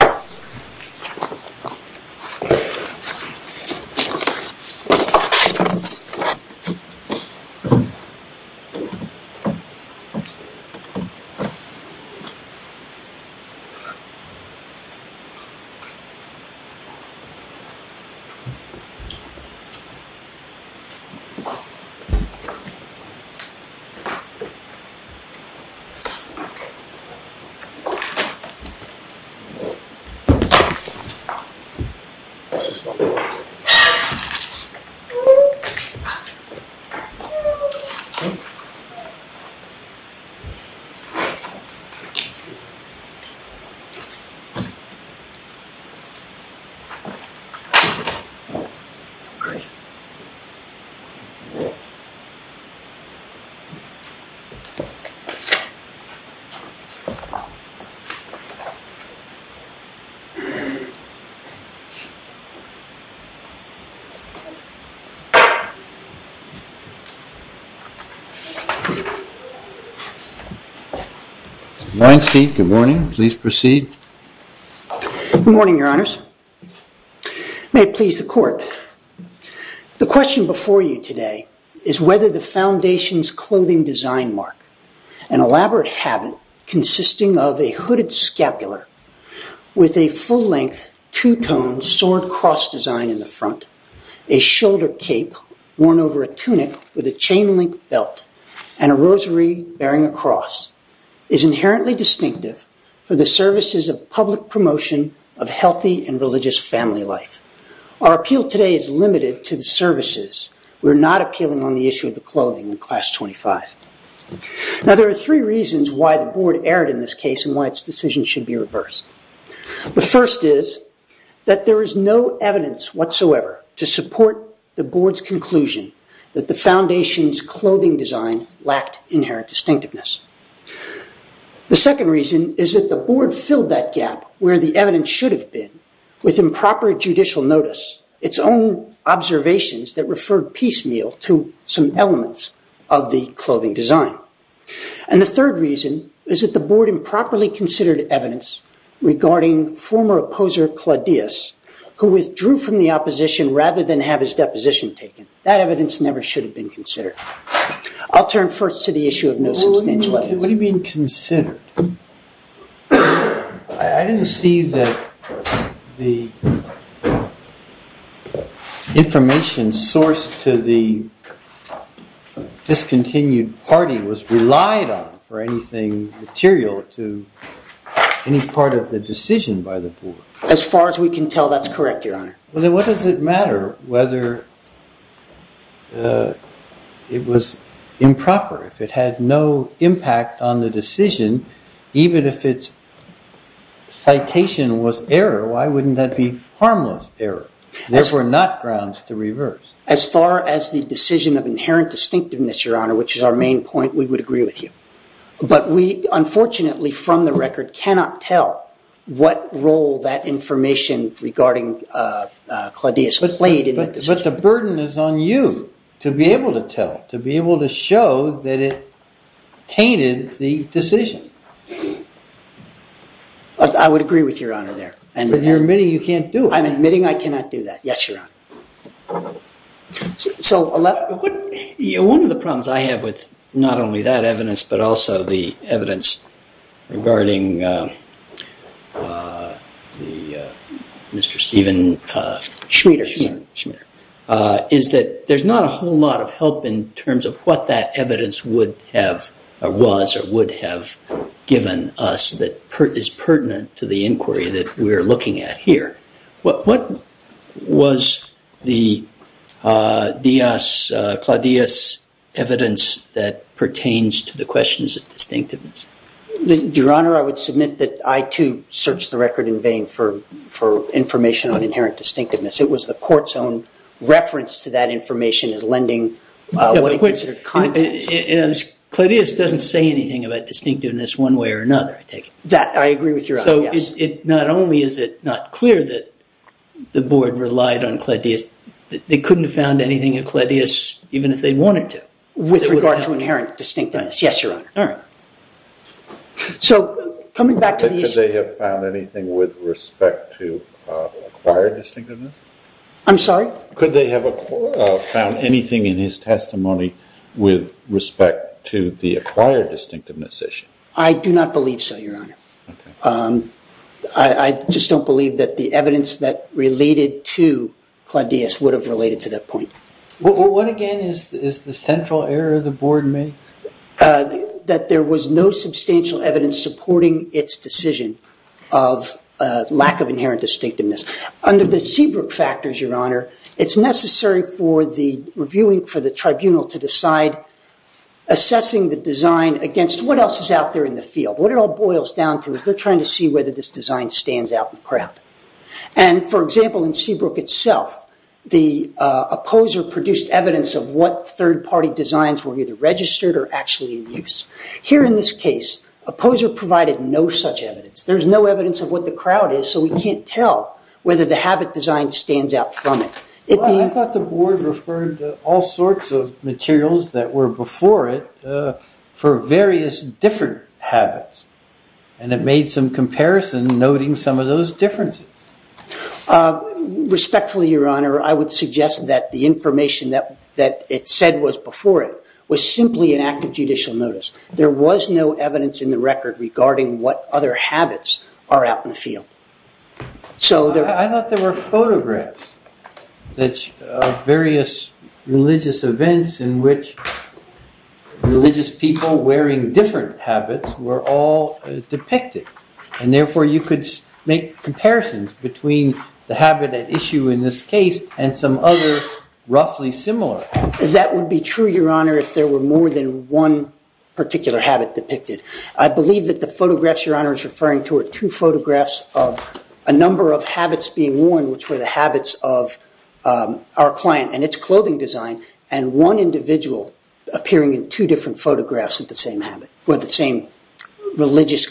ACCORDION Please take your seats. Good morning, Steve, good morning. Please proceed. Good morning, your honors. May it please the court. The question before you today is whether the foundation's clothing design mark, an elaborate habit consisting of a hooded scapular with a full-length, two-toned sword cross design in the front, a shoulder cape worn over a tunic with a chain-link belt, and a rosary bearing a cross, is inherently distinctive for the services of public promotion of healthy and religious family life. Our appeal today is limited to the services. We're not appealing on the issue of the clothing in class 25. Now, there are three reasons why the board erred in this case and why its decision should be reversed. The first is that there is no evidence whatsoever to support the board's conclusion that the foundation's clothing design lacked inherent distinctiveness. The second reason is that the board filled that gap where the evidence should have been with improper judicial notice, its own observations that referred piecemeal to some elements of the clothing design. And the third reason is that the board improperly considered evidence regarding former opposer Claudius, who withdrew from the opposition rather than have his deposition taken. That evidence never should have been considered. I'll turn first to the issue of no substantial evidence. What do you mean considered? I didn't see that the information sourced to the discontinued party was relied on for anything material to any part of the decision by the board. As far as we can tell, that's correct, Your Honor. Well, then what does it matter whether it was improper? If it had no impact on the decision, even if its citation was error, why wouldn't that be harmless error? There were not grounds to reverse. As far as the decision of inherent distinctiveness, Your Honor, which is our main point, we would agree with you. But we, unfortunately, from the record cannot tell what role that information regarding Claudius played in that decision. But the burden is on you to be able to tell, to be able to show that it tainted the decision. I would agree with Your Honor there. But you're admitting you can't do it. I'm admitting I cannot do that. Yes, Your Honor. So one of the problems I have with not only that evidence, but also the evidence regarding Mr. Stephen Schmider, is that there's not a whole lot of help in terms of what that evidence would have, or was, or would have given us that is pertinent to the inquiry that we are looking at here. What was the Claudius evidence that questions its distinctiveness? Your Honor, I would submit that I, too, searched the record in vain for information on inherent distinctiveness. It was the court's own reference to that information as lending what it considered confidence. Claudius doesn't say anything about distinctiveness one way or another, I take it. I agree with Your Honor, yes. Not only is it not clear that the board relied on Claudius, they couldn't have found anything in Claudius even if they wanted to. With regard to inherent distinctiveness. Yes, Your Honor. So coming back to the issue. Could they have found anything with respect to acquired distinctiveness? I'm sorry? Could they have found anything in his testimony with respect to the acquired distinctiveness issue? I do not believe so, Your Honor. I just don't believe that the evidence that related to Claudius would have related to that point. What, again, is the central error the board made? That there was no substantial evidence supporting its decision of lack of inherent distinctiveness. Under the Seabrook factors, Your Honor, it's necessary for the reviewing for the tribunal to decide assessing the design against what else is out there in the field. What it all boils down to is they're trying to see whether this design stands out in the crowd. And for example, in Seabrook itself, the opposer produced evidence of what third party designs were either registered or actually in use. Here in this case, opposer provided no such evidence. There's no evidence of what the crowd is, so we can't tell whether the habit design stands out from it. I thought the board referred to all sorts of materials that were before it for various different habits. And it made some comparison noting some of those differences. Respectfully, Your Honor, I would suggest that the information that it said was before it was simply an act of judicial notice. There was no evidence in the record regarding what other habits are out in the field. I thought there were photographs of various religious events in which religious people wearing different habits were all depicted. And therefore, you could make comparisons between the habit at issue in this case and some other roughly similar. That would be true, Your Honor, if there were more than one particular habit depicted. I believe that the photographs Your Honor is referring to are two photographs of a number of habits being worn, which were the habits of our client and its clothing design and one individual appearing in two different photographs with the same religious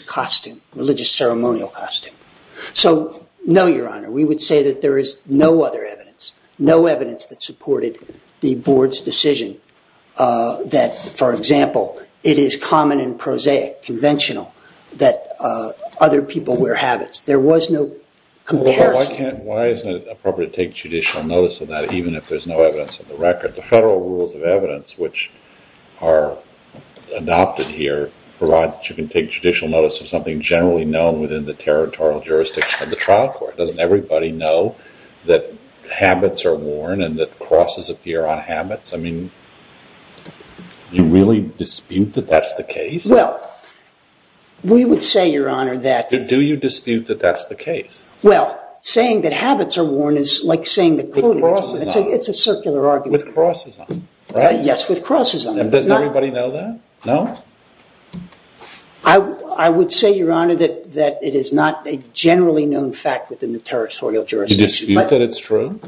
ceremonial costume. So no, Your Honor. We would say that there is no other evidence, no evidence that supported the board's decision that, for example, it is common and prosaic, conventional, that other people wear habits. There was no comparison. Why isn't it appropriate to take judicial notice of that even if there's no evidence in the record? The federal rules of evidence, which are adopted here, provide that you can take judicial notice of something generally known within the territorial jurisdiction of the trial court. Doesn't everybody know that habits are worn and that crosses appear on habits? I mean, you really dispute that that's the case? Well, we would say, Your Honor, that. Do you dispute that that's the case? Well, saying that habits are worn is like saying that clothing is worn. It's a circular argument. With crosses on it, right? Yes, with crosses on it. Does everybody know that? No? I would say, Your Honor, that it is not a generally known fact within the territorial jurisdiction. Do you dispute that it's true?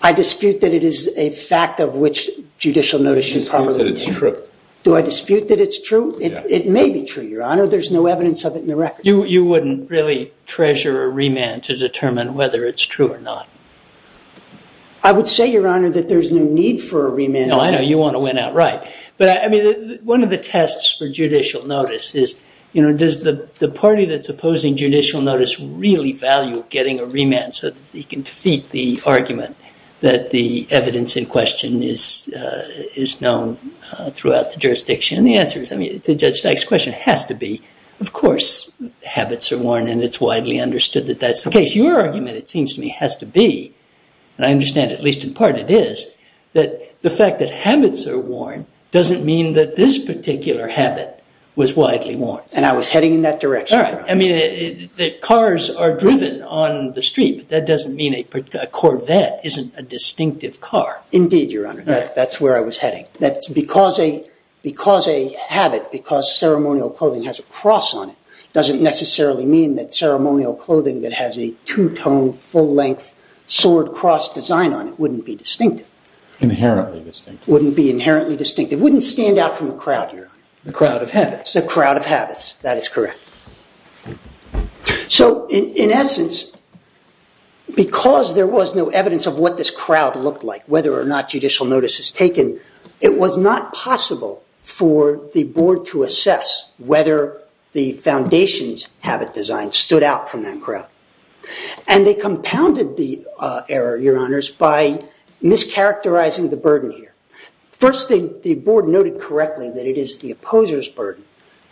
I dispute that it is a fact of which judicial notice should probably be. You dispute that it's true. Do I dispute that it's true? It may be true, Your Honor. There's no evidence of it in the record. You wouldn't really treasure a remand to determine whether it's true or not. I would say, Your Honor, that there's no need for a remand. No, I know. You want to win outright. But I mean, one of the tests for judicial notice is, does the party that's opposing judicial notice really value getting a remand so that he can defeat the argument that the evidence in question is known throughout the jurisdiction? And the answer to Judge Dyke's question has to be, of course, habits are worn. And it's widely understood that that's the case. But your argument, it seems to me, has to be, and I understand at least in part it is, that the fact that habits are worn doesn't mean that this particular habit was widely worn. And I was heading in that direction. I mean, cars are driven on the street. That doesn't mean a Corvette isn't a distinctive car. Indeed, Your Honor. That's where I was heading. Because a habit, because ceremonial clothing has a cross on it, doesn't necessarily mean that ceremonial clothing that has a two-tone, full-length, sword-cross design on it wouldn't be distinctive. Inherently distinctive. Wouldn't be inherently distinctive. Wouldn't stand out from the crowd, Your Honor. The crowd of habits. The crowd of habits. That is correct. So in essence, because there was no evidence of what this crowd looked like, whether or not judicial notice is taken, it was not possible for the board to assess whether the foundations have design stood out from that crowd. And they compounded the error, Your Honors, by mischaracterizing the burden here. First, the board noted correctly that it is the opposer's burden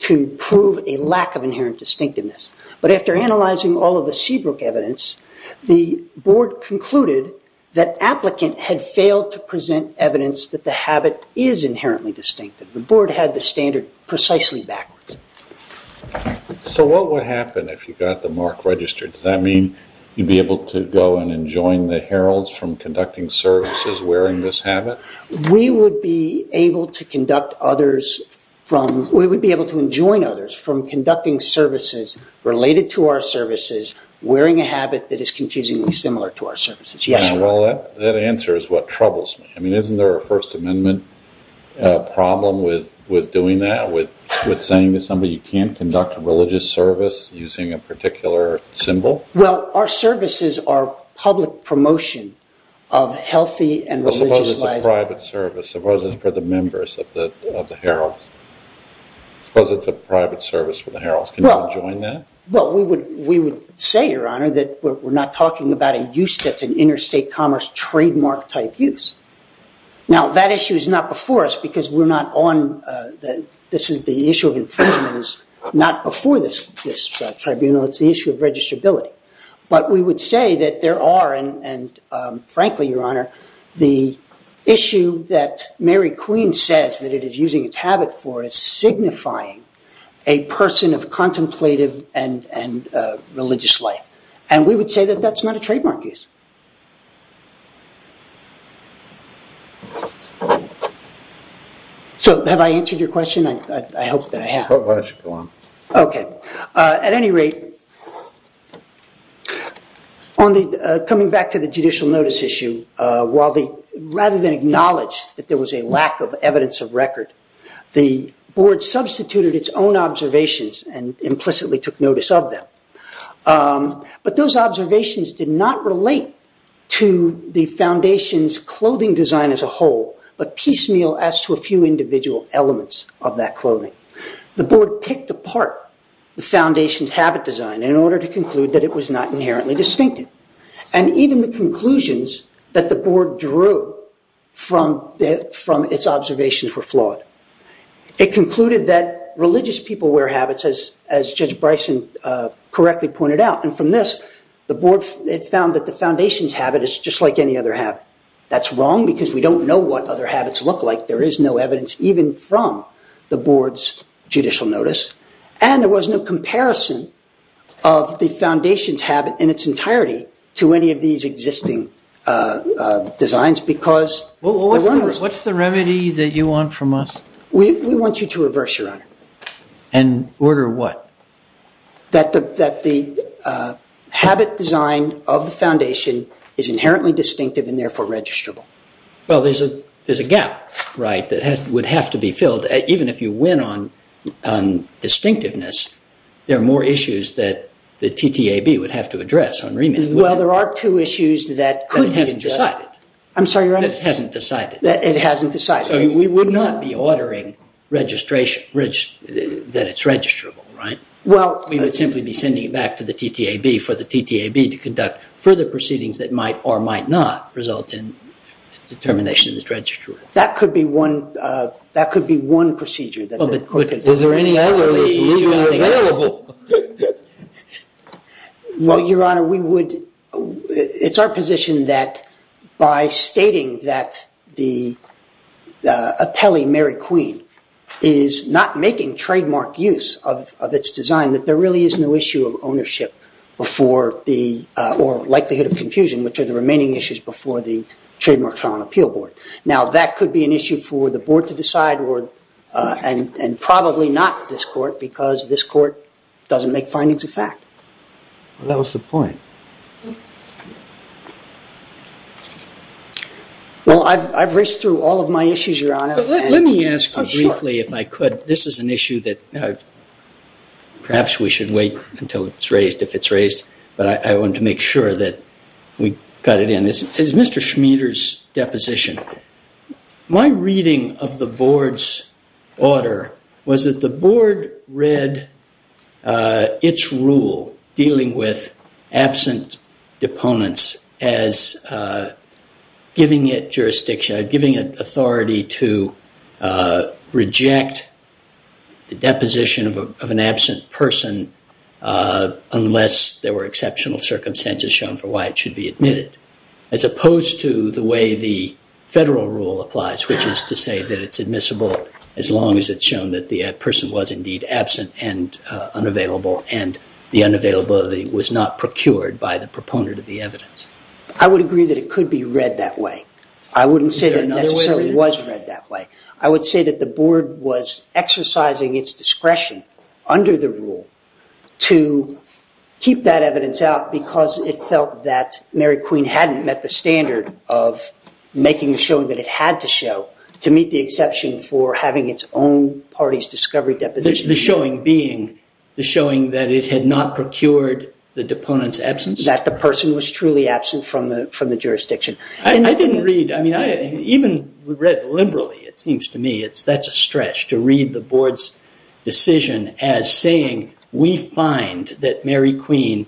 to prove a lack of inherent distinctiveness. But after analyzing all of the Seabrook evidence, the board concluded that applicant had failed to present evidence that the habit is inherently distinctive. The board had the standard precisely backwards. So what would happen if you got the mark registered? Does that mean you'd be able to go and enjoin the heralds from conducting services wearing this habit? We would be able to conduct others from, we would be able to enjoin others from conducting services related to our services, wearing a habit that is confusingly similar to our services. Yes, Your Honor. That answer is what troubles me. I mean, isn't there a First Amendment problem with doing that, with saying to somebody, you can't conduct a religious service using a particular symbol? Well, our services are public promotion of healthy and religious life. Suppose it's a private service. Suppose it's for the members of the herald. Suppose it's a private service for the herald. Can you enjoin that? Well, we would say, Your Honor, that we're not talking about a use that's an interstate commerce trademark type use. Now, that issue is not before us because we're not on the issue of infringements, not before this tribunal. It's the issue of registrability. But we would say that there are, and frankly, Your Honor, the issue that Mary Queen says that it is using its habit for is signifying a person of contemplative and religious life. And we would say that that's not a trademark use. So have I answered your question? I hope that I have. Why don't you go on. OK. At any rate, coming back to the judicial notice issue, while the rather than acknowledge that there was a lack of evidence of record, the board substituted its own observations and implicitly took notice of them. But those observations did not relate to the foundation's clothing design as a whole, but piecemeal as to a few individual elements of that clothing. The board picked apart the foundation's habit design in order to conclude that it was not inherently distinctive. And even the conclusions that the board drew from its observations were flawed. It concluded that religious people wear habits, as Judge Bryson correctly pointed out. And from this, the board found that the foundation's habit is just like any other habit. That's wrong because we don't know what other habits look like. There is no evidence, even from the board's judicial notice. And there was no comparison of the foundation's habit in its entirety to any of these existing designs because there were no. What's the remedy that you want from us? We want you to reverse, Your Honor. And order what? That the habit design of the foundation is inherently distinctive and therefore registrable. Well, there's a gap, right, that would have to be filled. Even if you win on distinctiveness, there are more issues that the TTAB would have to address on remand. Well, there are two issues that could be addressed. That it hasn't decided. I'm sorry, Your Honor? That it hasn't decided. That it hasn't decided. So we would not be ordering that it's registrable, right? We would simply be sending it back to the TTAB for the TTAB to conduct further proceedings that might or might not result in determination that it's registrable. That could be one procedure that the court could do. Is there any other solution available? Well, Your Honor, it's our position that by stating that the appellee, Mary Queen, is not making trademark use of its design, that there really is no issue of ownership or likelihood of confusion, which are the remaining issues before the Trademark Trial and Appeal Board. Now, that could be an issue for the board to decide, and probably not this court, because this court doesn't make findings of fact. Well, that was the point. Well, I've raced through all of my issues, Your Honor. Let me ask you briefly, if I could. This is an issue that perhaps we should wait until it's raised, if it's raised. But I wanted to make sure that we got it in. As Mr. Schmieder's deposition, my reading of the board's order was that the board read its rule dealing with absent deponents as giving it jurisdiction, giving it authority to reject the deposition of an absent person unless there were exceptional circumstances shown for why it should be admitted, as opposed to the way the federal rule applies, which is to say that it's admissible as long as it's shown that the person was indeed absent and unavailable, and the unavailability was not procured by the proponent of the evidence. I would agree that it could be read that way. I wouldn't say that it necessarily was read that way. I would say that the board was exercising its discretion under the rule to keep that evidence out because it felt that Mary Queen hadn't met the standard of making the showing that it had to show to meet the exception for having its own party's discovery deposition. The showing being the showing that it had not procured the deponent's absence? That the person was truly absent from the jurisdiction. I didn't read. I mean, even read liberally, it seems to me that's a stretch to read the board's decision as saying we find that Mary Queen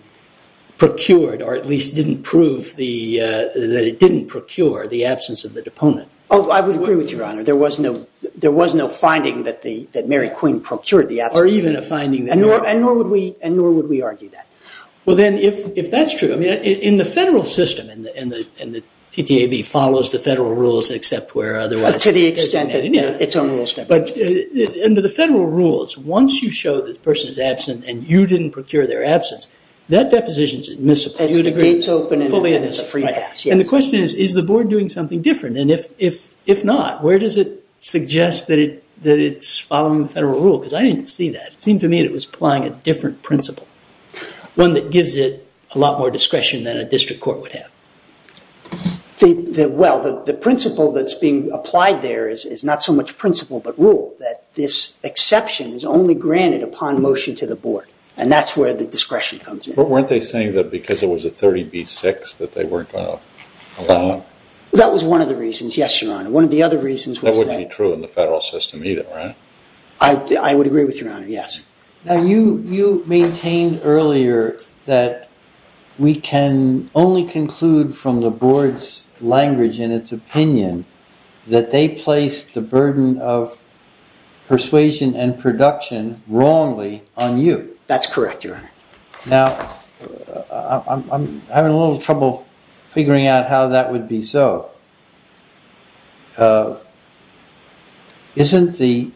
procured, or at least didn't prove that it didn't procure the absence of the deponent. Oh, I would agree with you, Your Honor. There was no finding that Mary Queen procured the absence. Or even a finding that Mary Queen didn't. And nor would we argue that. Well, then, if that's true, in the federal system, and the TTAB follows the federal rules except where otherwise To the extent that its own rules don't. But under the federal rules, once you show that the person is absent and you didn't procure their absence, that deposition is admissible. It's the gates open and the free pass. And the question is, is the board doing something different? And if not, where does it suggest that it's following the federal rule? Because I didn't see that. It seemed to me that it was applying a different principle, one that gives it a lot more discretion than a district court would have. Well, the principle that's being applied there is not so much principle but rule, that this exception is only granted upon motion to the board. And that's where the discretion comes in. But weren't they saying that because it was a 30B-6 that they weren't going to allow? That was one of the reasons. Yes, Your Honor. One of the other reasons was that. That wouldn't be true in the federal system either, right? I would agree with Your Honor, yes. Now, you maintained earlier that we can only conclude from the board's language and its opinion that they placed the burden of persuasion and production wrongly on you. That's correct, Your Honor. Now, I'm having a little trouble figuring out how that would be so. Isn't the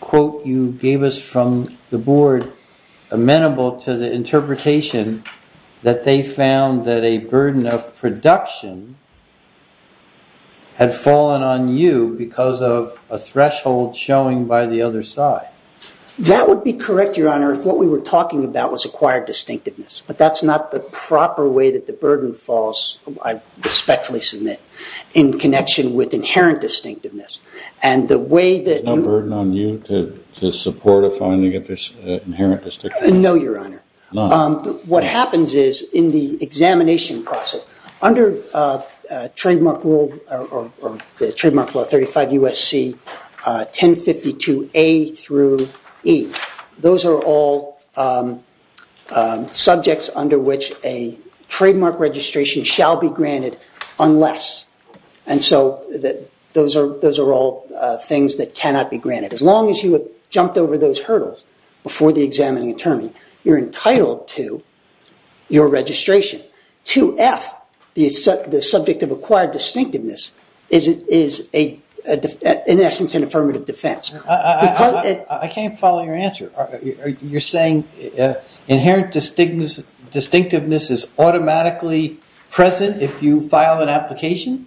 quote you gave us from the board amenable to the interpretation that they found that a burden of production had fallen on you because of a threshold showing by the other side? That would be correct, Your Honor, if what we were talking about was acquired distinctiveness. But that's not the proper way that the burden falls, I respectfully submit, in connection with inherent distinctiveness. And the way that you- No burden on you to support a finding of this inherent distinctiveness? No, Your Honor. What happens is, in the examination process, under Trademark Law 35 U.S.C. 1052A through E, those are all subjects under which a trademark registration shall be granted unless. And so those are all things that cannot be granted. As long as you have jumped over those hurdles before the examining attorney, you're entitled to your registration. To F, the subject of acquired distinctiveness is, in essence, an affirmative defense. I can't follow your answer. You're saying inherent distinctiveness is automatically present if you file an application?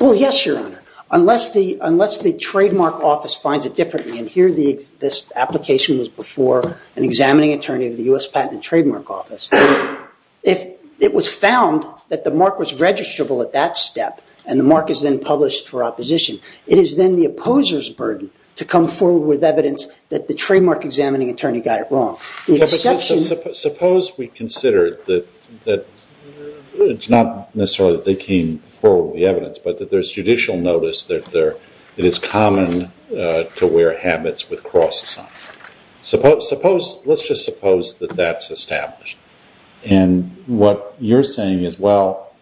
Well, yes, Your Honor, unless the trademark office finds it differently. And here, this application was before an examining attorney of the U.S. Patent and Trademark Office. If it was found that the mark was registrable at that step, and the mark is then published for opposition, it is then the opposer's burden to come forward with evidence that the trademark examining attorney got it wrong. But suppose we consider that it's not necessarily that they came forward with the evidence, but that there's judicial notice that it is common to wear habits with crosses on them. Let's just suppose that that's established. And what you're saying is, well,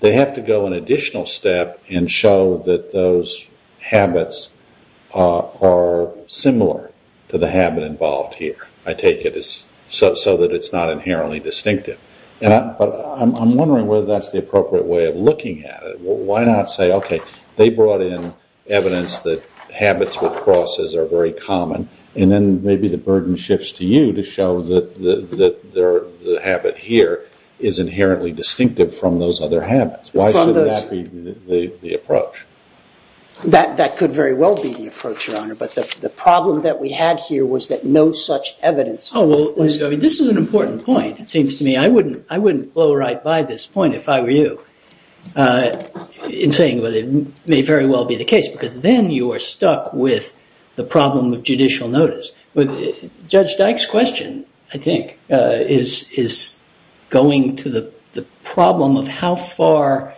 they have to go an additional step and show that those habits are similar to the habit involved here. I take it it's so that it's not inherently distinctive. But I'm wondering whether that's the appropriate way of looking at it. Why not say, OK, they brought in evidence that habits with crosses are very common, and then maybe the burden shifts to you to show that the habit here is inherently distinctive from those other habits? Why shouldn't that be the approach? That could very well be the approach, Your Honor. But the problem that we had here was that no such evidence was given. This is an important point, it seems to me. I wouldn't blow right by this point, if I were you, in saying that it may very well be the case. Because then you are stuck with the problem of judicial notice. Judge Dyke's question, I think, is going to the problem of how far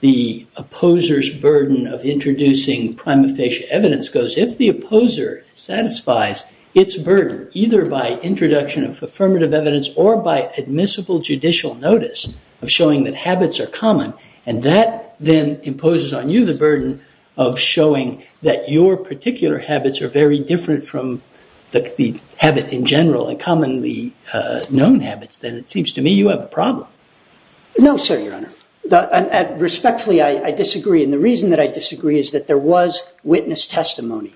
the opposer's burden of introducing prima facie evidence goes. If the opposer satisfies its burden, either by introduction of affirmative evidence or by admissible judicial notice of showing that habits are common, and that then imposes on you the burden of showing that your particular habits are very different from the habit in general, and commonly known habits, then it seems to me you have a problem. No, sir, Your Honor. Respectfully, I disagree. And the reason that I disagree is that there was witness testimony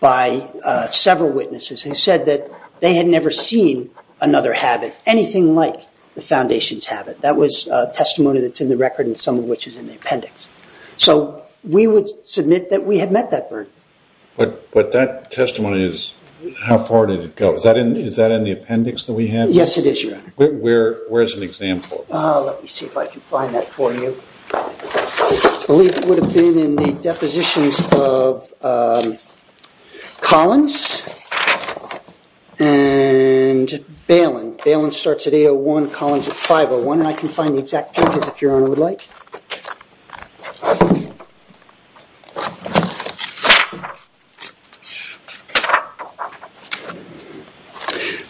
by several witnesses who said that they had never seen another habit, anything like the foundation's habit. That was testimony that's in the record and some of which is in the appendix. So we would submit that we had met that burden. But that testimony is, how far did it go? Is that in the appendix that we have? Yes, it is, Your Honor. Where's an example? Let me see if I can find that for you. I believe it would have been in the depositions of Collins and Balin. Balin starts at 801, Collins at 501. I can find the exact pages if Your Honor would like.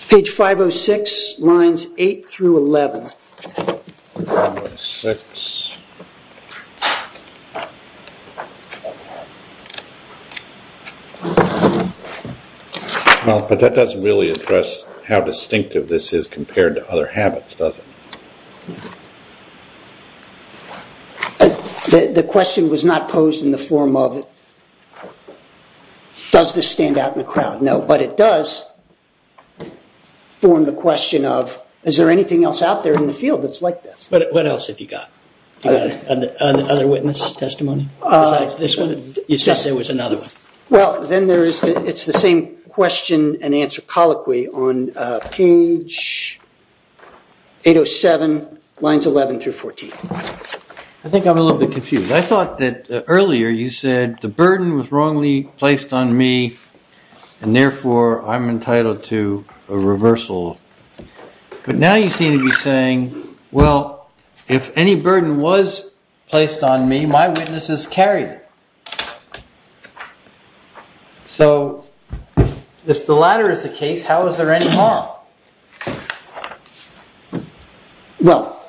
Page 506, lines 8 through 11. But that doesn't really address how distinctive this is compared to other habits, does it? The question was not posed in the form of, does this stand out in the crowd? No, but it does form the question of, is there anything else out there in the field that's like this? have any other questions. Other witness testimony besides this one? You said there was another one. Well, then it's the same question and answer colloquy on page 807, lines 11 through 14. I think I'm a little bit confused. I thought that earlier you said, the burden was wrongly placed on me. And therefore, I'm entitled to a reversal. But now you seem to be saying, well, if any burden was placed on me, my witnesses carried it. So if the latter is the case, how is there any harm? Well,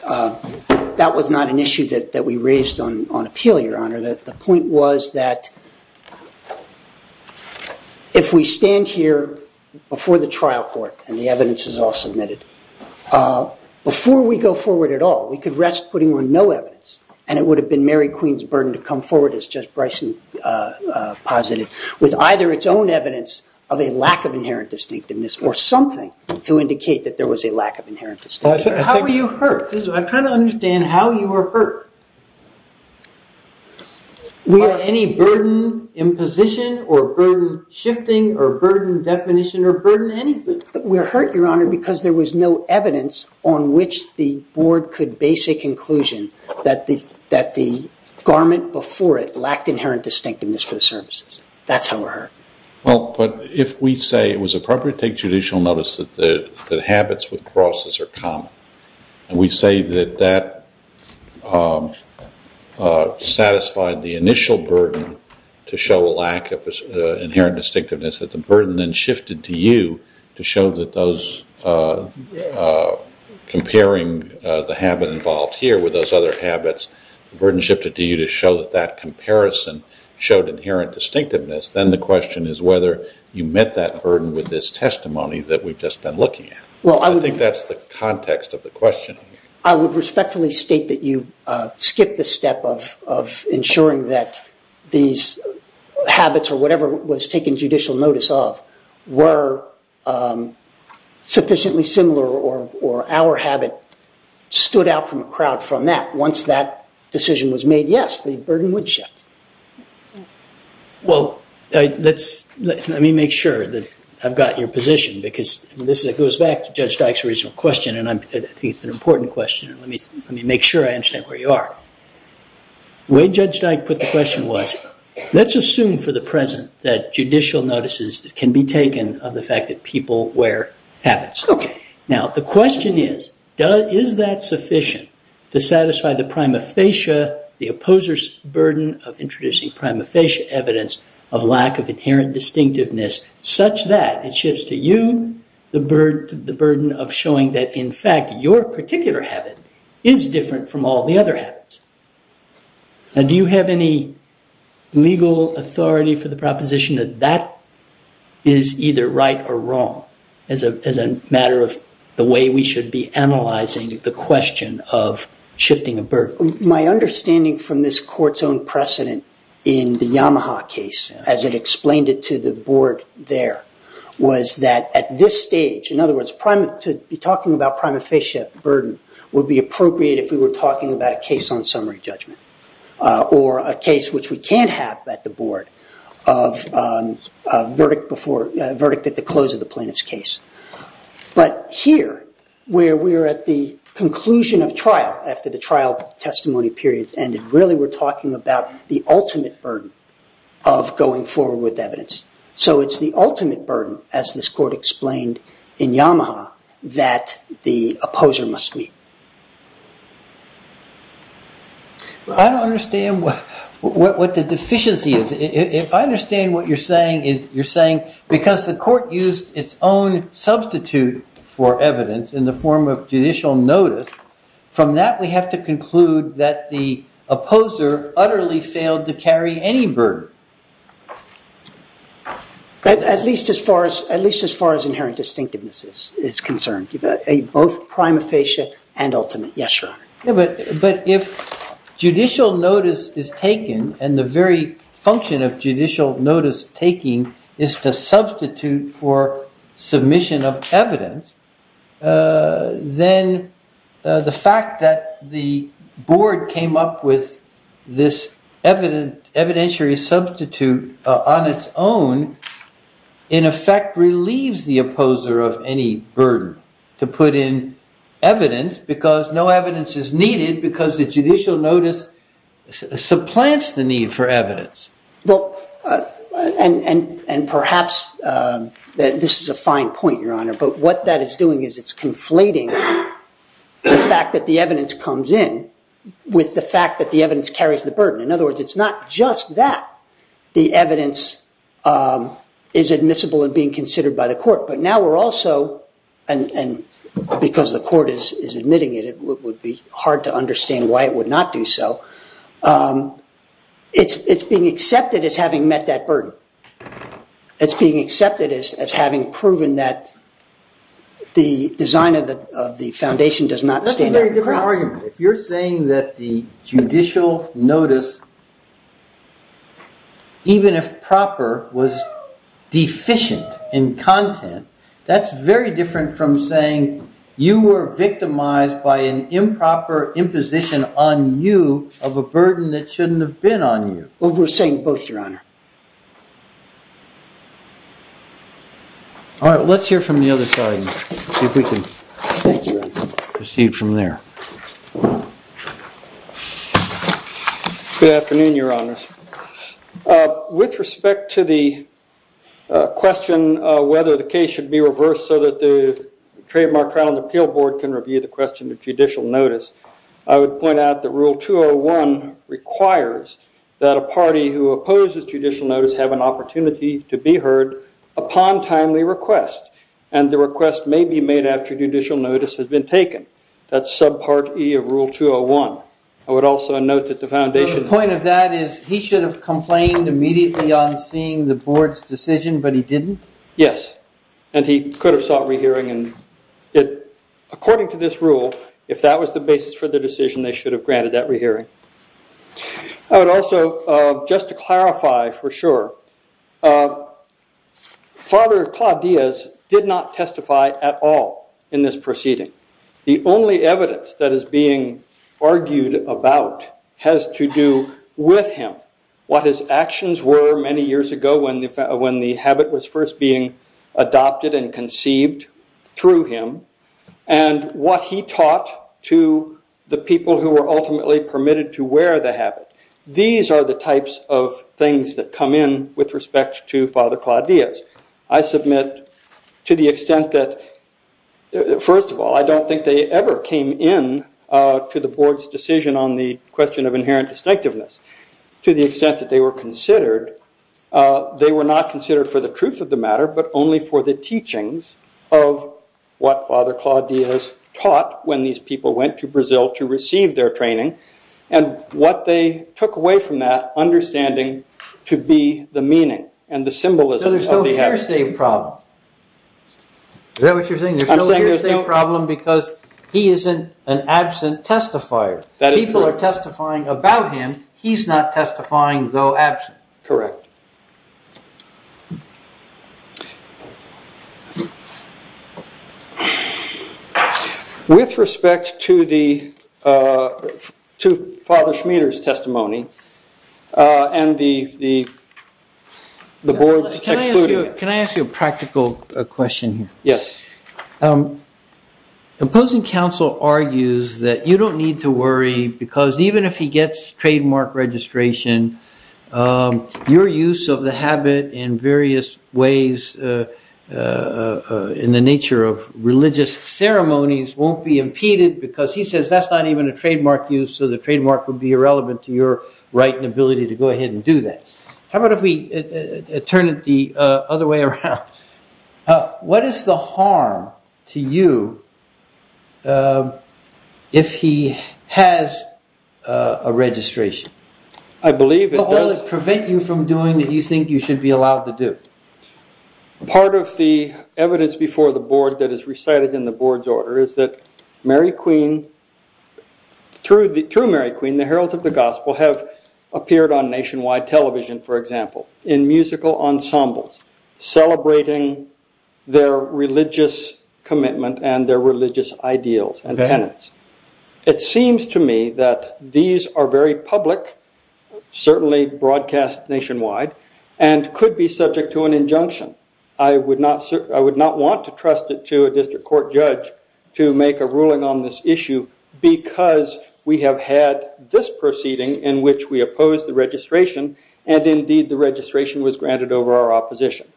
that was not an issue that we raised on appeal, Your Honor. The point was that if we stand here before the trial court, and the evidence is all submitted, before we go forward at all, we could rest putting on no evidence. And it would have been Mary Queen's burden to come forward as just Bryson posited, with either its own evidence of a lack of inherent distinctiveness, or something to indicate that there was a lack of inherent distinctiveness. How were you hurt? I'm trying to understand how you were hurt. Were you any burden in position, or burden shifting, or burden definition, or burden anything? We're hurt, Your Honor, because there was no evidence on which the board could base a conclusion that the garment before it lacked inherent distinctiveness for the services. That's how we're hurt. Well, but if we say it was appropriate to take judicial notice that habits with crosses are common, and we say that that satisfied the initial burden to show a lack of inherent distinctiveness, that the burden then shifted to you to show that those comparing the habit involved here with those other habits, the burden shifted to you to show that that comparison showed inherent distinctiveness. Then the question is whether you met that burden with this testimony that we've just been looking at. Well, I would think that's the context of the question. I would respectfully state that you skipped the step of ensuring that these habits, or whatever was taken judicial notice of, were sufficiently similar, or our habit stood out from a crowd from that. Once that decision was made, yes, the burden would shift. Well, let me make sure that I've got your position, because this goes back to Judge Dyke's original question, and I think it's an important question. Let me make sure I understand where you are. The way Judge Dyke put the question was, let's assume for the present that judicial notices can be taken of the fact that people wear habits. Now, the question is, is that sufficient to satisfy the prima facie, the opposer's burden of introducing prima facie evidence of lack of inherent distinctiveness, such that it shifts to you the burden of showing that, in fact, your particular habit is different from all the other habits? Now, do you have any legal authority for the proposition that that is either right or wrong, as a matter of the way we should be analyzing the question of shifting a burden? My understanding from this court's own precedent in the Yamaha case, as it explained it to the board there, was that at this stage, in other words, to be talking about prima facie burden would be appropriate if we were talking about a case on social summary judgment, or a case which we can't have at the board of a verdict at the close of the plaintiff's case. But here, where we're at the conclusion of trial after the trial testimony period's ended, really we're talking about the ultimate burden of going forward with evidence. So it's the ultimate burden, as this court explained in Yamaha, that the opposer must meet. I don't understand what the deficiency is. If I understand what you're saying, is you're saying because the court used its own substitute for evidence in the form of judicial notice, from that we have to conclude that the opposer utterly failed to carry any burden. At least as far as inherent distinctiveness is concerned, both prima facie and ultimate. Yes, Your Honor. But if judicial notice is taken, and the very function of judicial notice taking is to substitute for submission of evidence, then the fact that the board came up with this evidentiary substitute on its own, in effect, relieves the opposer of any burden to put in evidence, because no evidence is needed, because the judicial notice supplants the need for evidence. Well, and perhaps this is a fine point, Your Honor. But what that is doing is it's conflating the fact that the evidence comes in with the fact that the evidence carries the burden. In other words, it's not just that the evidence is admissible and being considered by the court. But now we're also, and because the court is admitting it, it would be hard to understand why it would not do so. It's being accepted as having met that burden. It's being accepted as having proven that the design of the foundation does not stand out. That's a very different argument. If you're saying that the judicial notice, even if proper, was deficient in content, that's very different from saying you were victimized by an improper imposition on you of a burden that shouldn't have been on you. Well, we're saying both, Your Honor. All right, let's hear from the other side and see if we can proceed from there. Good afternoon, Your Honors. With respect to the question of whether the case should be reversed so that the trademark trial and appeal board can review the question of judicial notice, I would point out that Rule 201 requires that a party who opposes judicial notice have an opportunity to be heard upon timely request. And the request may be made after judicial notice has been taken. That's subpart E of Rule 201. I would also note that the foundation's that is he should have complained immediately on seeing the board's decision, but he didn't? Yes, and he could have sought re-hearing. And according to this rule, if that was the basis for the decision, they should have granted that re-hearing. I would also, just to clarify for sure, Father Claude Diaz did not testify at all in this proceeding. The only evidence that is being argued about has to do with him, what his actions were many years ago when the habit was first being adopted and conceived through him, and what he taught to the people who were ultimately permitted to wear the habit. These are the types of things that come in with respect to Father Claude Diaz. I submit to the extent that, first of all, I don't think they ever came in to the board's decision on the question of inherent distinctiveness. To the extent that they were considered, they were not considered for the truth of the matter, but only for the teachings of what Father Claude Diaz taught when these people went to Brazil to receive their training, and what they took away from that understanding to be the meaning and the symbolism of the habit. So there's no hearsay problem? Is that what you're saying? There's no hearsay problem because he isn't an absent testifier. People are testifying about him. He's not testifying though absent. Correct. With respect to Father Schmieder's testimony and the board's excluding it. Can I ask you a practical question here? Yes. The opposing counsel argues that you don't need to worry because even if he gets trademark registration, your use of the habit in various ways in the nature of religious ceremonies won't be impeded because he says that's not even a trademark use, so the trademark would be irrelevant to your right and ability to go ahead and do that. How about if we turn it the other way around? What is the harm to you if he has a registration? I believe it does. Will it prevent you from doing what you think you should be allowed to do? Part of the evidence before the board that is recited in the board's order is that Mary Queen, true Mary Queen, the heralds of the gospel have appeared on nationwide television, for example, in musical ensembles celebrating their religious commitment and their religious ideals and tenets. It seems to me that these are very public, certainly broadcast nationwide, and could be subject to an injunction. I would not want to trust it to a district court judge to make a ruling on this issue because we have had this proceeding in which we oppose the registration, and indeed the registration was granted over our opposition.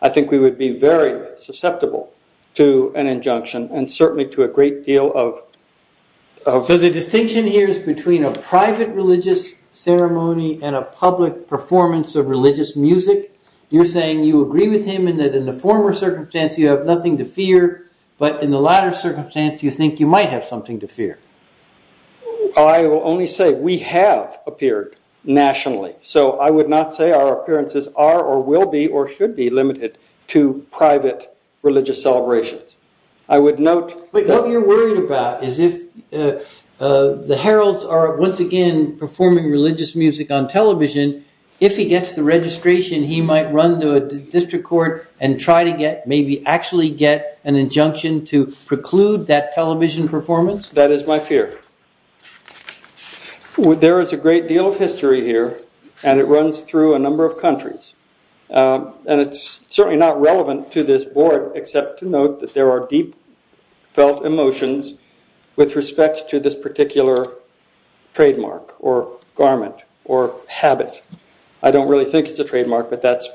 I think we would be very susceptible to an injunction and certainly to a great deal of- So the distinction here is between a private religious ceremony and a public performance of religious music. You're saying you agree with him and that in the former circumstance, you have nothing to fear, but in the latter circumstance, you think you might have something to fear. I will only say we have appeared nationally, so I would not say our appearances are or will be or should be limited to private religious celebrations. I would note- But what you're worried about is if the heralds are once again performing religious music on television, if he gets the registration, he might run to a district court and try to get, maybe actually get, an injunction to preclude that television performance? That is my fear. There is a great deal of history here, and it runs through a number of countries. And it's certainly not relevant to this board except to note that there are deep-felt emotions with respect to this particular trademark or garment or habit. I don't really think it's a trademark, but that's-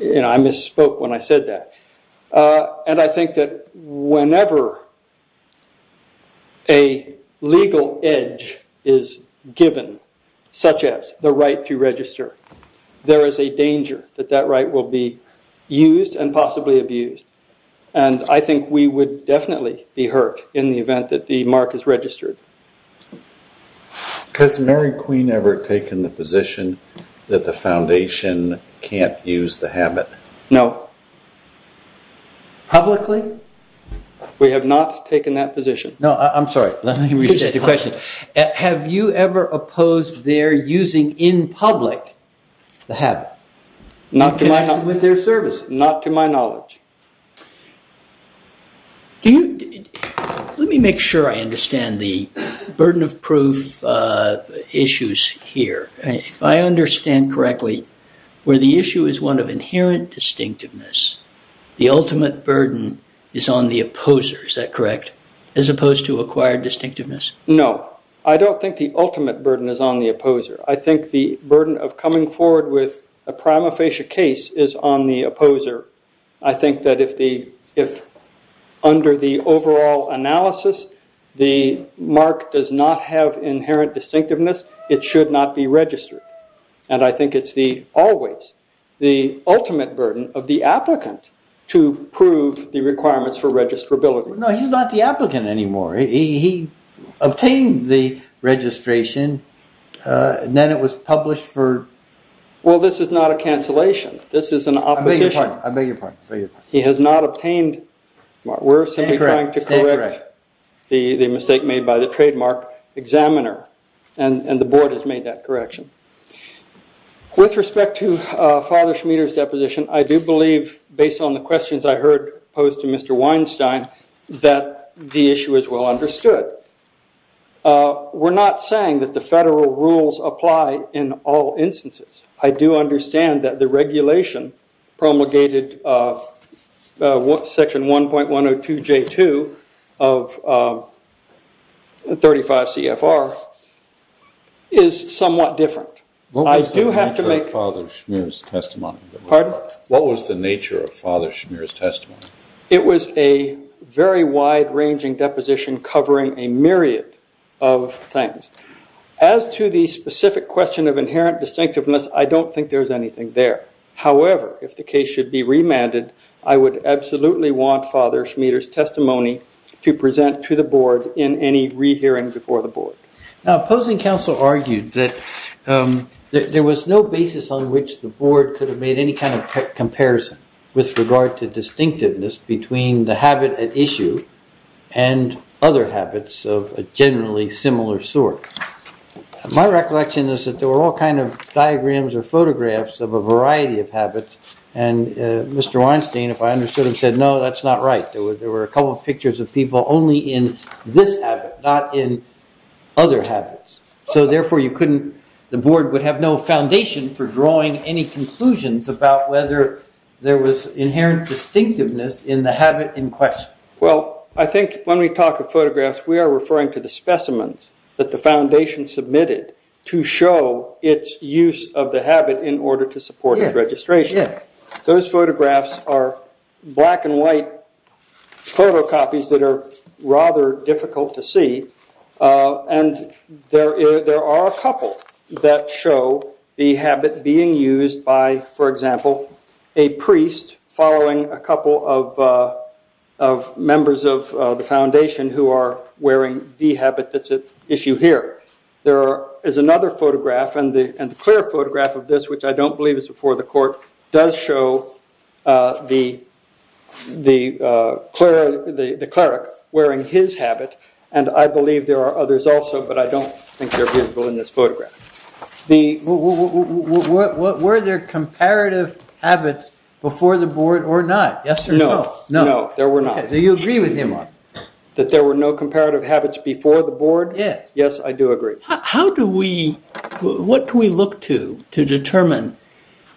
I misspoke when I said that. And I think that whenever a legal edge is given, such as the right to register, there is a danger that that right will be used and possibly abused. And I think we would definitely be hurt in the event that the mark is registered. Has Mary Queen ever taken the position that the foundation can't use the habit? No. Publicly? We have not taken that position. No, I'm sorry. Let me rephrase your question. Have you ever opposed their using, in public, the habit? Not to my knowledge. In connection with their service? Not to my knowledge. Let me make sure I understand the burden of proof issues here. If I understand correctly, where the issue is one of inherent distinctiveness, the ultimate burden is on the opposer, is that correct? As opposed to acquired distinctiveness? No. I don't think the ultimate burden is on the opposer. I think the burden of coming forward with a prima facie case is on the opposer. I think that if under the overall analysis, the mark does not have inherent distinctiveness, it should not be registered. And I think it's always the ultimate burden of the applicant to prove the requirements for registrability. No, he's not the applicant anymore. He obtained the registration, and then it was published for. Well, this is not a cancellation. This is an opposition. I beg your pardon. He has not obtained. We're simply trying to correct the mistake made by the trademark examiner. And the board has made that correction. With respect to Father Schmieder's deposition, I do believe, based on the questions I heard posed to Mr. Weinstein, that the issue is well understood. We're not saying that the federal rules apply in all instances. I do understand that the regulation promulgated in section 1.102J2 of 35 CFR is somewhat different. I do have to make. What was the nature of Father Schmieder's testimony? What was the nature of Father Schmieder's testimony? It was a very wide ranging deposition covering a myriad of things. As to the specific question of inherent distinctiveness, I don't think there's anything there. However, if the case should be remanded, I would absolutely want Father Schmieder's testimony to present to the board in any re-hearing before the board. Now, opposing counsel argued that there was no basis on which the board could have made any kind of comparison with regard to distinctiveness between the habit at issue and other habits of a generally similar sort. My recollection is that there were all kind of diagrams or photographs of a variety of habits. And Mr. Weinstein, if I understood him, said no, that's not right. There were a couple of pictures of people only in this habit, not in other habits. So therefore, the board would have no foundation for drawing any conclusions about whether there was inherent distinctiveness in the habit in question. Well, I think when we talk of photographs, we are referring to the specimens that the foundation submitted to show its use of the habit in order to support the registration. Those photographs are black and white photocopies that are rather difficult to see. And there are a couple that show the habit being used by, for example, a priest following a couple of members of the foundation who are wearing the habit that's at issue here. There is another photograph, and the clear photograph of this, which I don't believe is before the court, does show the cleric wearing his habit. And I believe there are others also, but I don't think they're visible in this photograph. Were there comparative habits before the board or not? Yes or no? No, there were not. So you agree with him on it? That there were no comparative habits before the board? Yes. Yes, I do agree. What do we look to to determine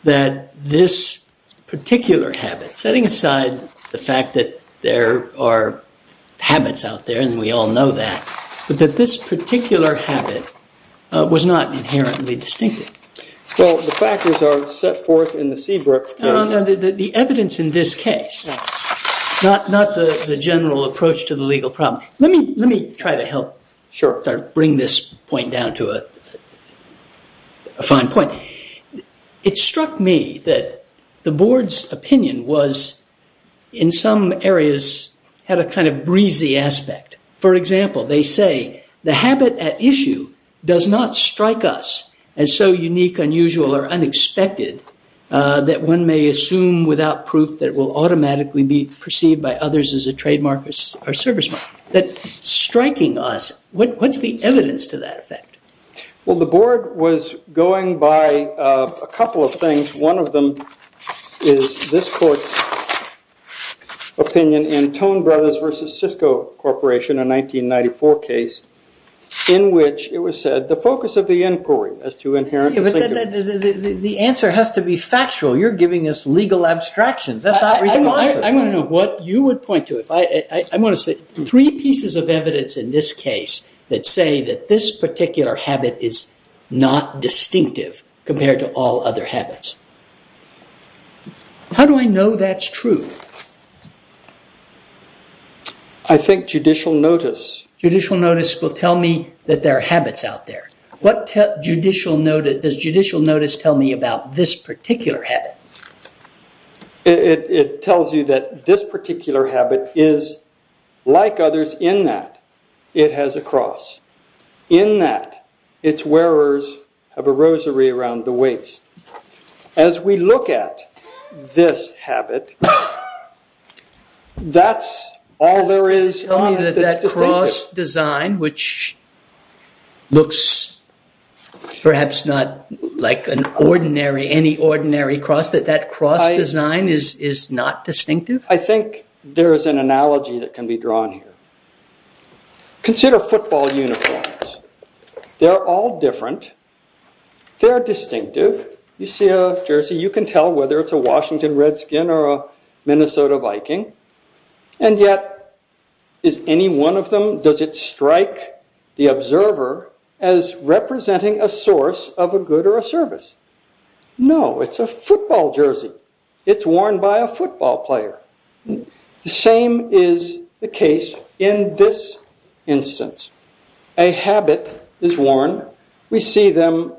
that this particular habit, setting aside the fact that there are habits out there, and we all know that, but that this particular habit was not inherently distinctive? Well, the factors are set forth in the Seabrook. The evidence in this case, not the general approach to the legal problem. Let me try to help bring this point down to a fine point. It struck me that the board's opinion was, in some areas, had a kind of breezy aspect. For example, they say, the habit at issue does not strike us as so unique, unusual, or unexpected that one may assume without proof that it will automatically be perceived by others as a trademark or service mark. That striking us, what's the evidence to that effect? Well, the board was going by a couple of things. One of them is this court's opinion in Tone Brothers versus Cisco Corporation, a 1994 case, in which it was said, the focus of the inquiry is to inherently think of it. The answer has to be factual. You're giving us legal abstractions. That's not responsive. I want to know what you would point to. I want to say, three pieces of evidence in this case that say that this particular habit is not distinctive compared to all other habits. How do I know that's true? I think judicial notice. Judicial notice will tell me that there are habits out there. Does judicial notice tell me about this particular habit? It tells you that this particular habit is, like others in that it has a cross. In that, its wearers have a rosary around the waist. As we look at this habit, that's all there is. Tell me that that cross design, which looks perhaps not like any ordinary cross, that that cross design is not distinctive? I think there is an analogy that can be drawn here. Consider football uniforms. They're all different. They're distinctive. You see a jersey, you can tell whether it's a Washington Redskin or a Minnesota Viking. And yet, is any one of them, does it as representing a source of a good or a service? No, it's a football jersey. It's worn by a football player. The same is the case in this instance. A habit is worn. We see them.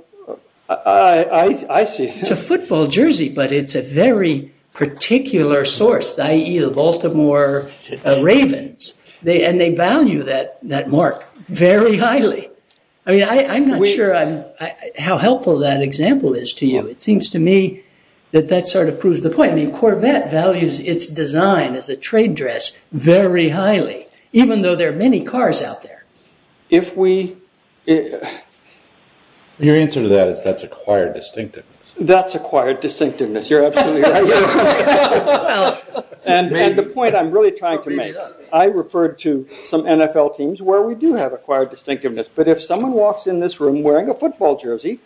I see them. It's a football jersey, but it's a very particular source, i.e. the Baltimore Ravens. And they value that mark very highly. I mean, I'm not sure how helpful that example is to you. It seems to me that that sort of proves the point. I mean, Corvette values its design as a trade dress very highly, even though there are many cars out there. Your answer to that is that's acquired distinctiveness. That's acquired distinctiveness. You're absolutely right. And the point I'm really trying to make, I referred to some NFL teams where we do have acquired distinctiveness. But if someone walks in this room wearing a football jersey,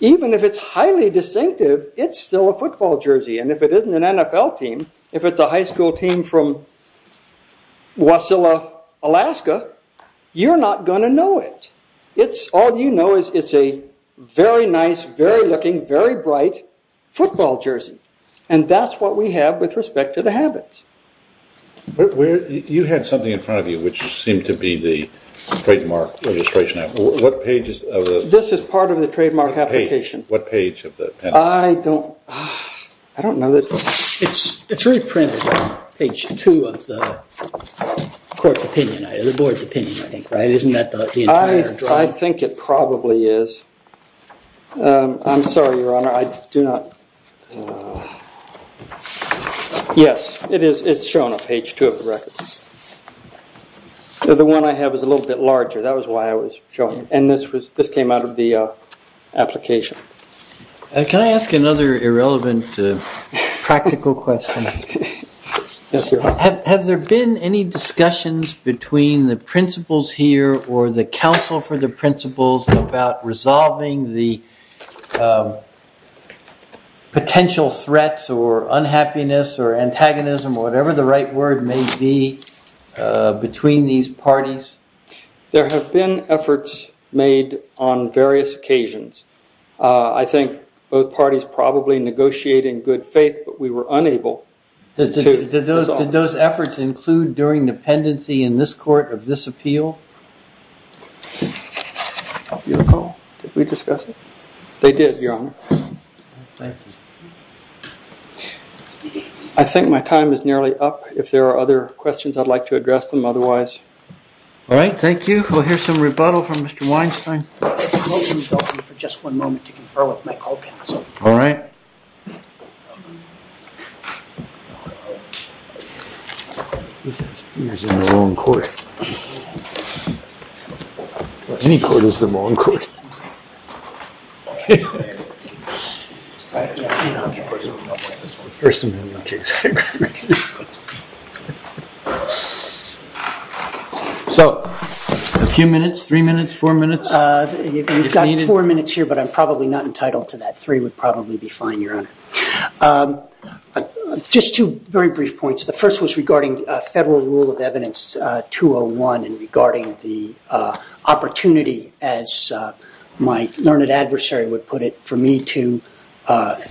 even if it's highly distinctive, it's still a football jersey. And if it isn't an NFL team, if it's a high school team from Wasilla, Alaska, you're not going to know it. All you know is it's a very nice, very looking, very bright football jersey. And that's what we have with respect to the habits. But you had something in front of you which seemed to be the trademark registration. This is part of the trademark application. What page of the pen? I don't know. It's reprinted on page two of the court's opinion, the board's opinion, I think. Isn't that the entire drawing? I think it probably is. I'm sorry, Your Honor, I do not. Yes, it's shown on page two of the record. The one I have is a little bit larger. That was why I was showing it. And this came out of the application. Can I ask another irrelevant practical question? Yes, Your Honor. Have there been any discussions between the principals here or the counsel for the principals about resolving the potential threats or unhappiness or antagonism, whatever the right word may be, between these parties? There have been efforts made on various occasions. I think both parties probably negotiate in good faith, but we were unable to resolve. Did those efforts include during dependency in this court of this appeal? Your call? Did we discuss it? They did, Your Honor. I think my time is nearly up. If there are other questions, I'd like to address them otherwise. All right. Thank you. We'll hear some rebuttal from Mr. Weinstein. Let me consult you for just one moment to confer with my co-counsel. All right. This is usually the wrong court. Any court is the wrong court. First Amendment case. So a few minutes, three minutes, four minutes? You've got four minutes here, but I'm probably not entitled to that. Three would probably be fine, Your Honor. Just two very brief points. The first was regarding a federal rule of evidence 201 and regarding the opportunity, as my learned adversary would put it, for me to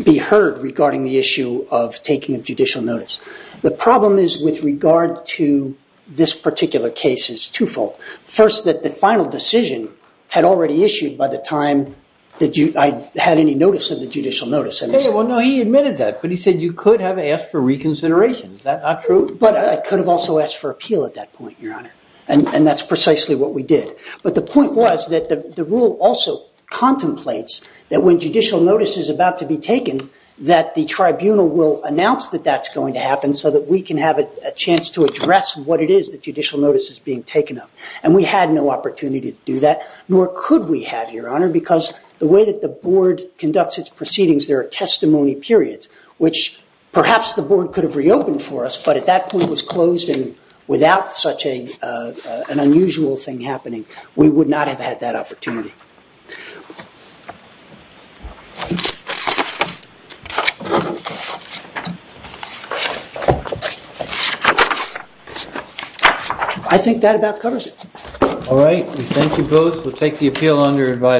be heard regarding the issue of taking a judicial notice. The problem is with regard to this particular case is twofold. First, that the final decision had already issued by the time I had any notice of the judicial notice. Well, no, he admitted that, but he said you could have asked for reconsideration. Is that not true? But I could have also asked for appeal at that point, Your Honor, and that's precisely what we did. But the point was that the rule also contemplates that when judicial notice is about to be taken, that the tribunal will announce that that's going to happen so that we can have a chance to address what it is that judicial notice is being taken of. And we had no opportunity to do that, nor could we have, Your Honor, because the way that the board conducts its proceedings, there are testimony periods, which perhaps the board could have reopened for us, but at that point was closed and without such an unusual thing happening, we would not have had that opportunity. I think that about covers it. All right, we thank you both. We'll take the appeal under advisory.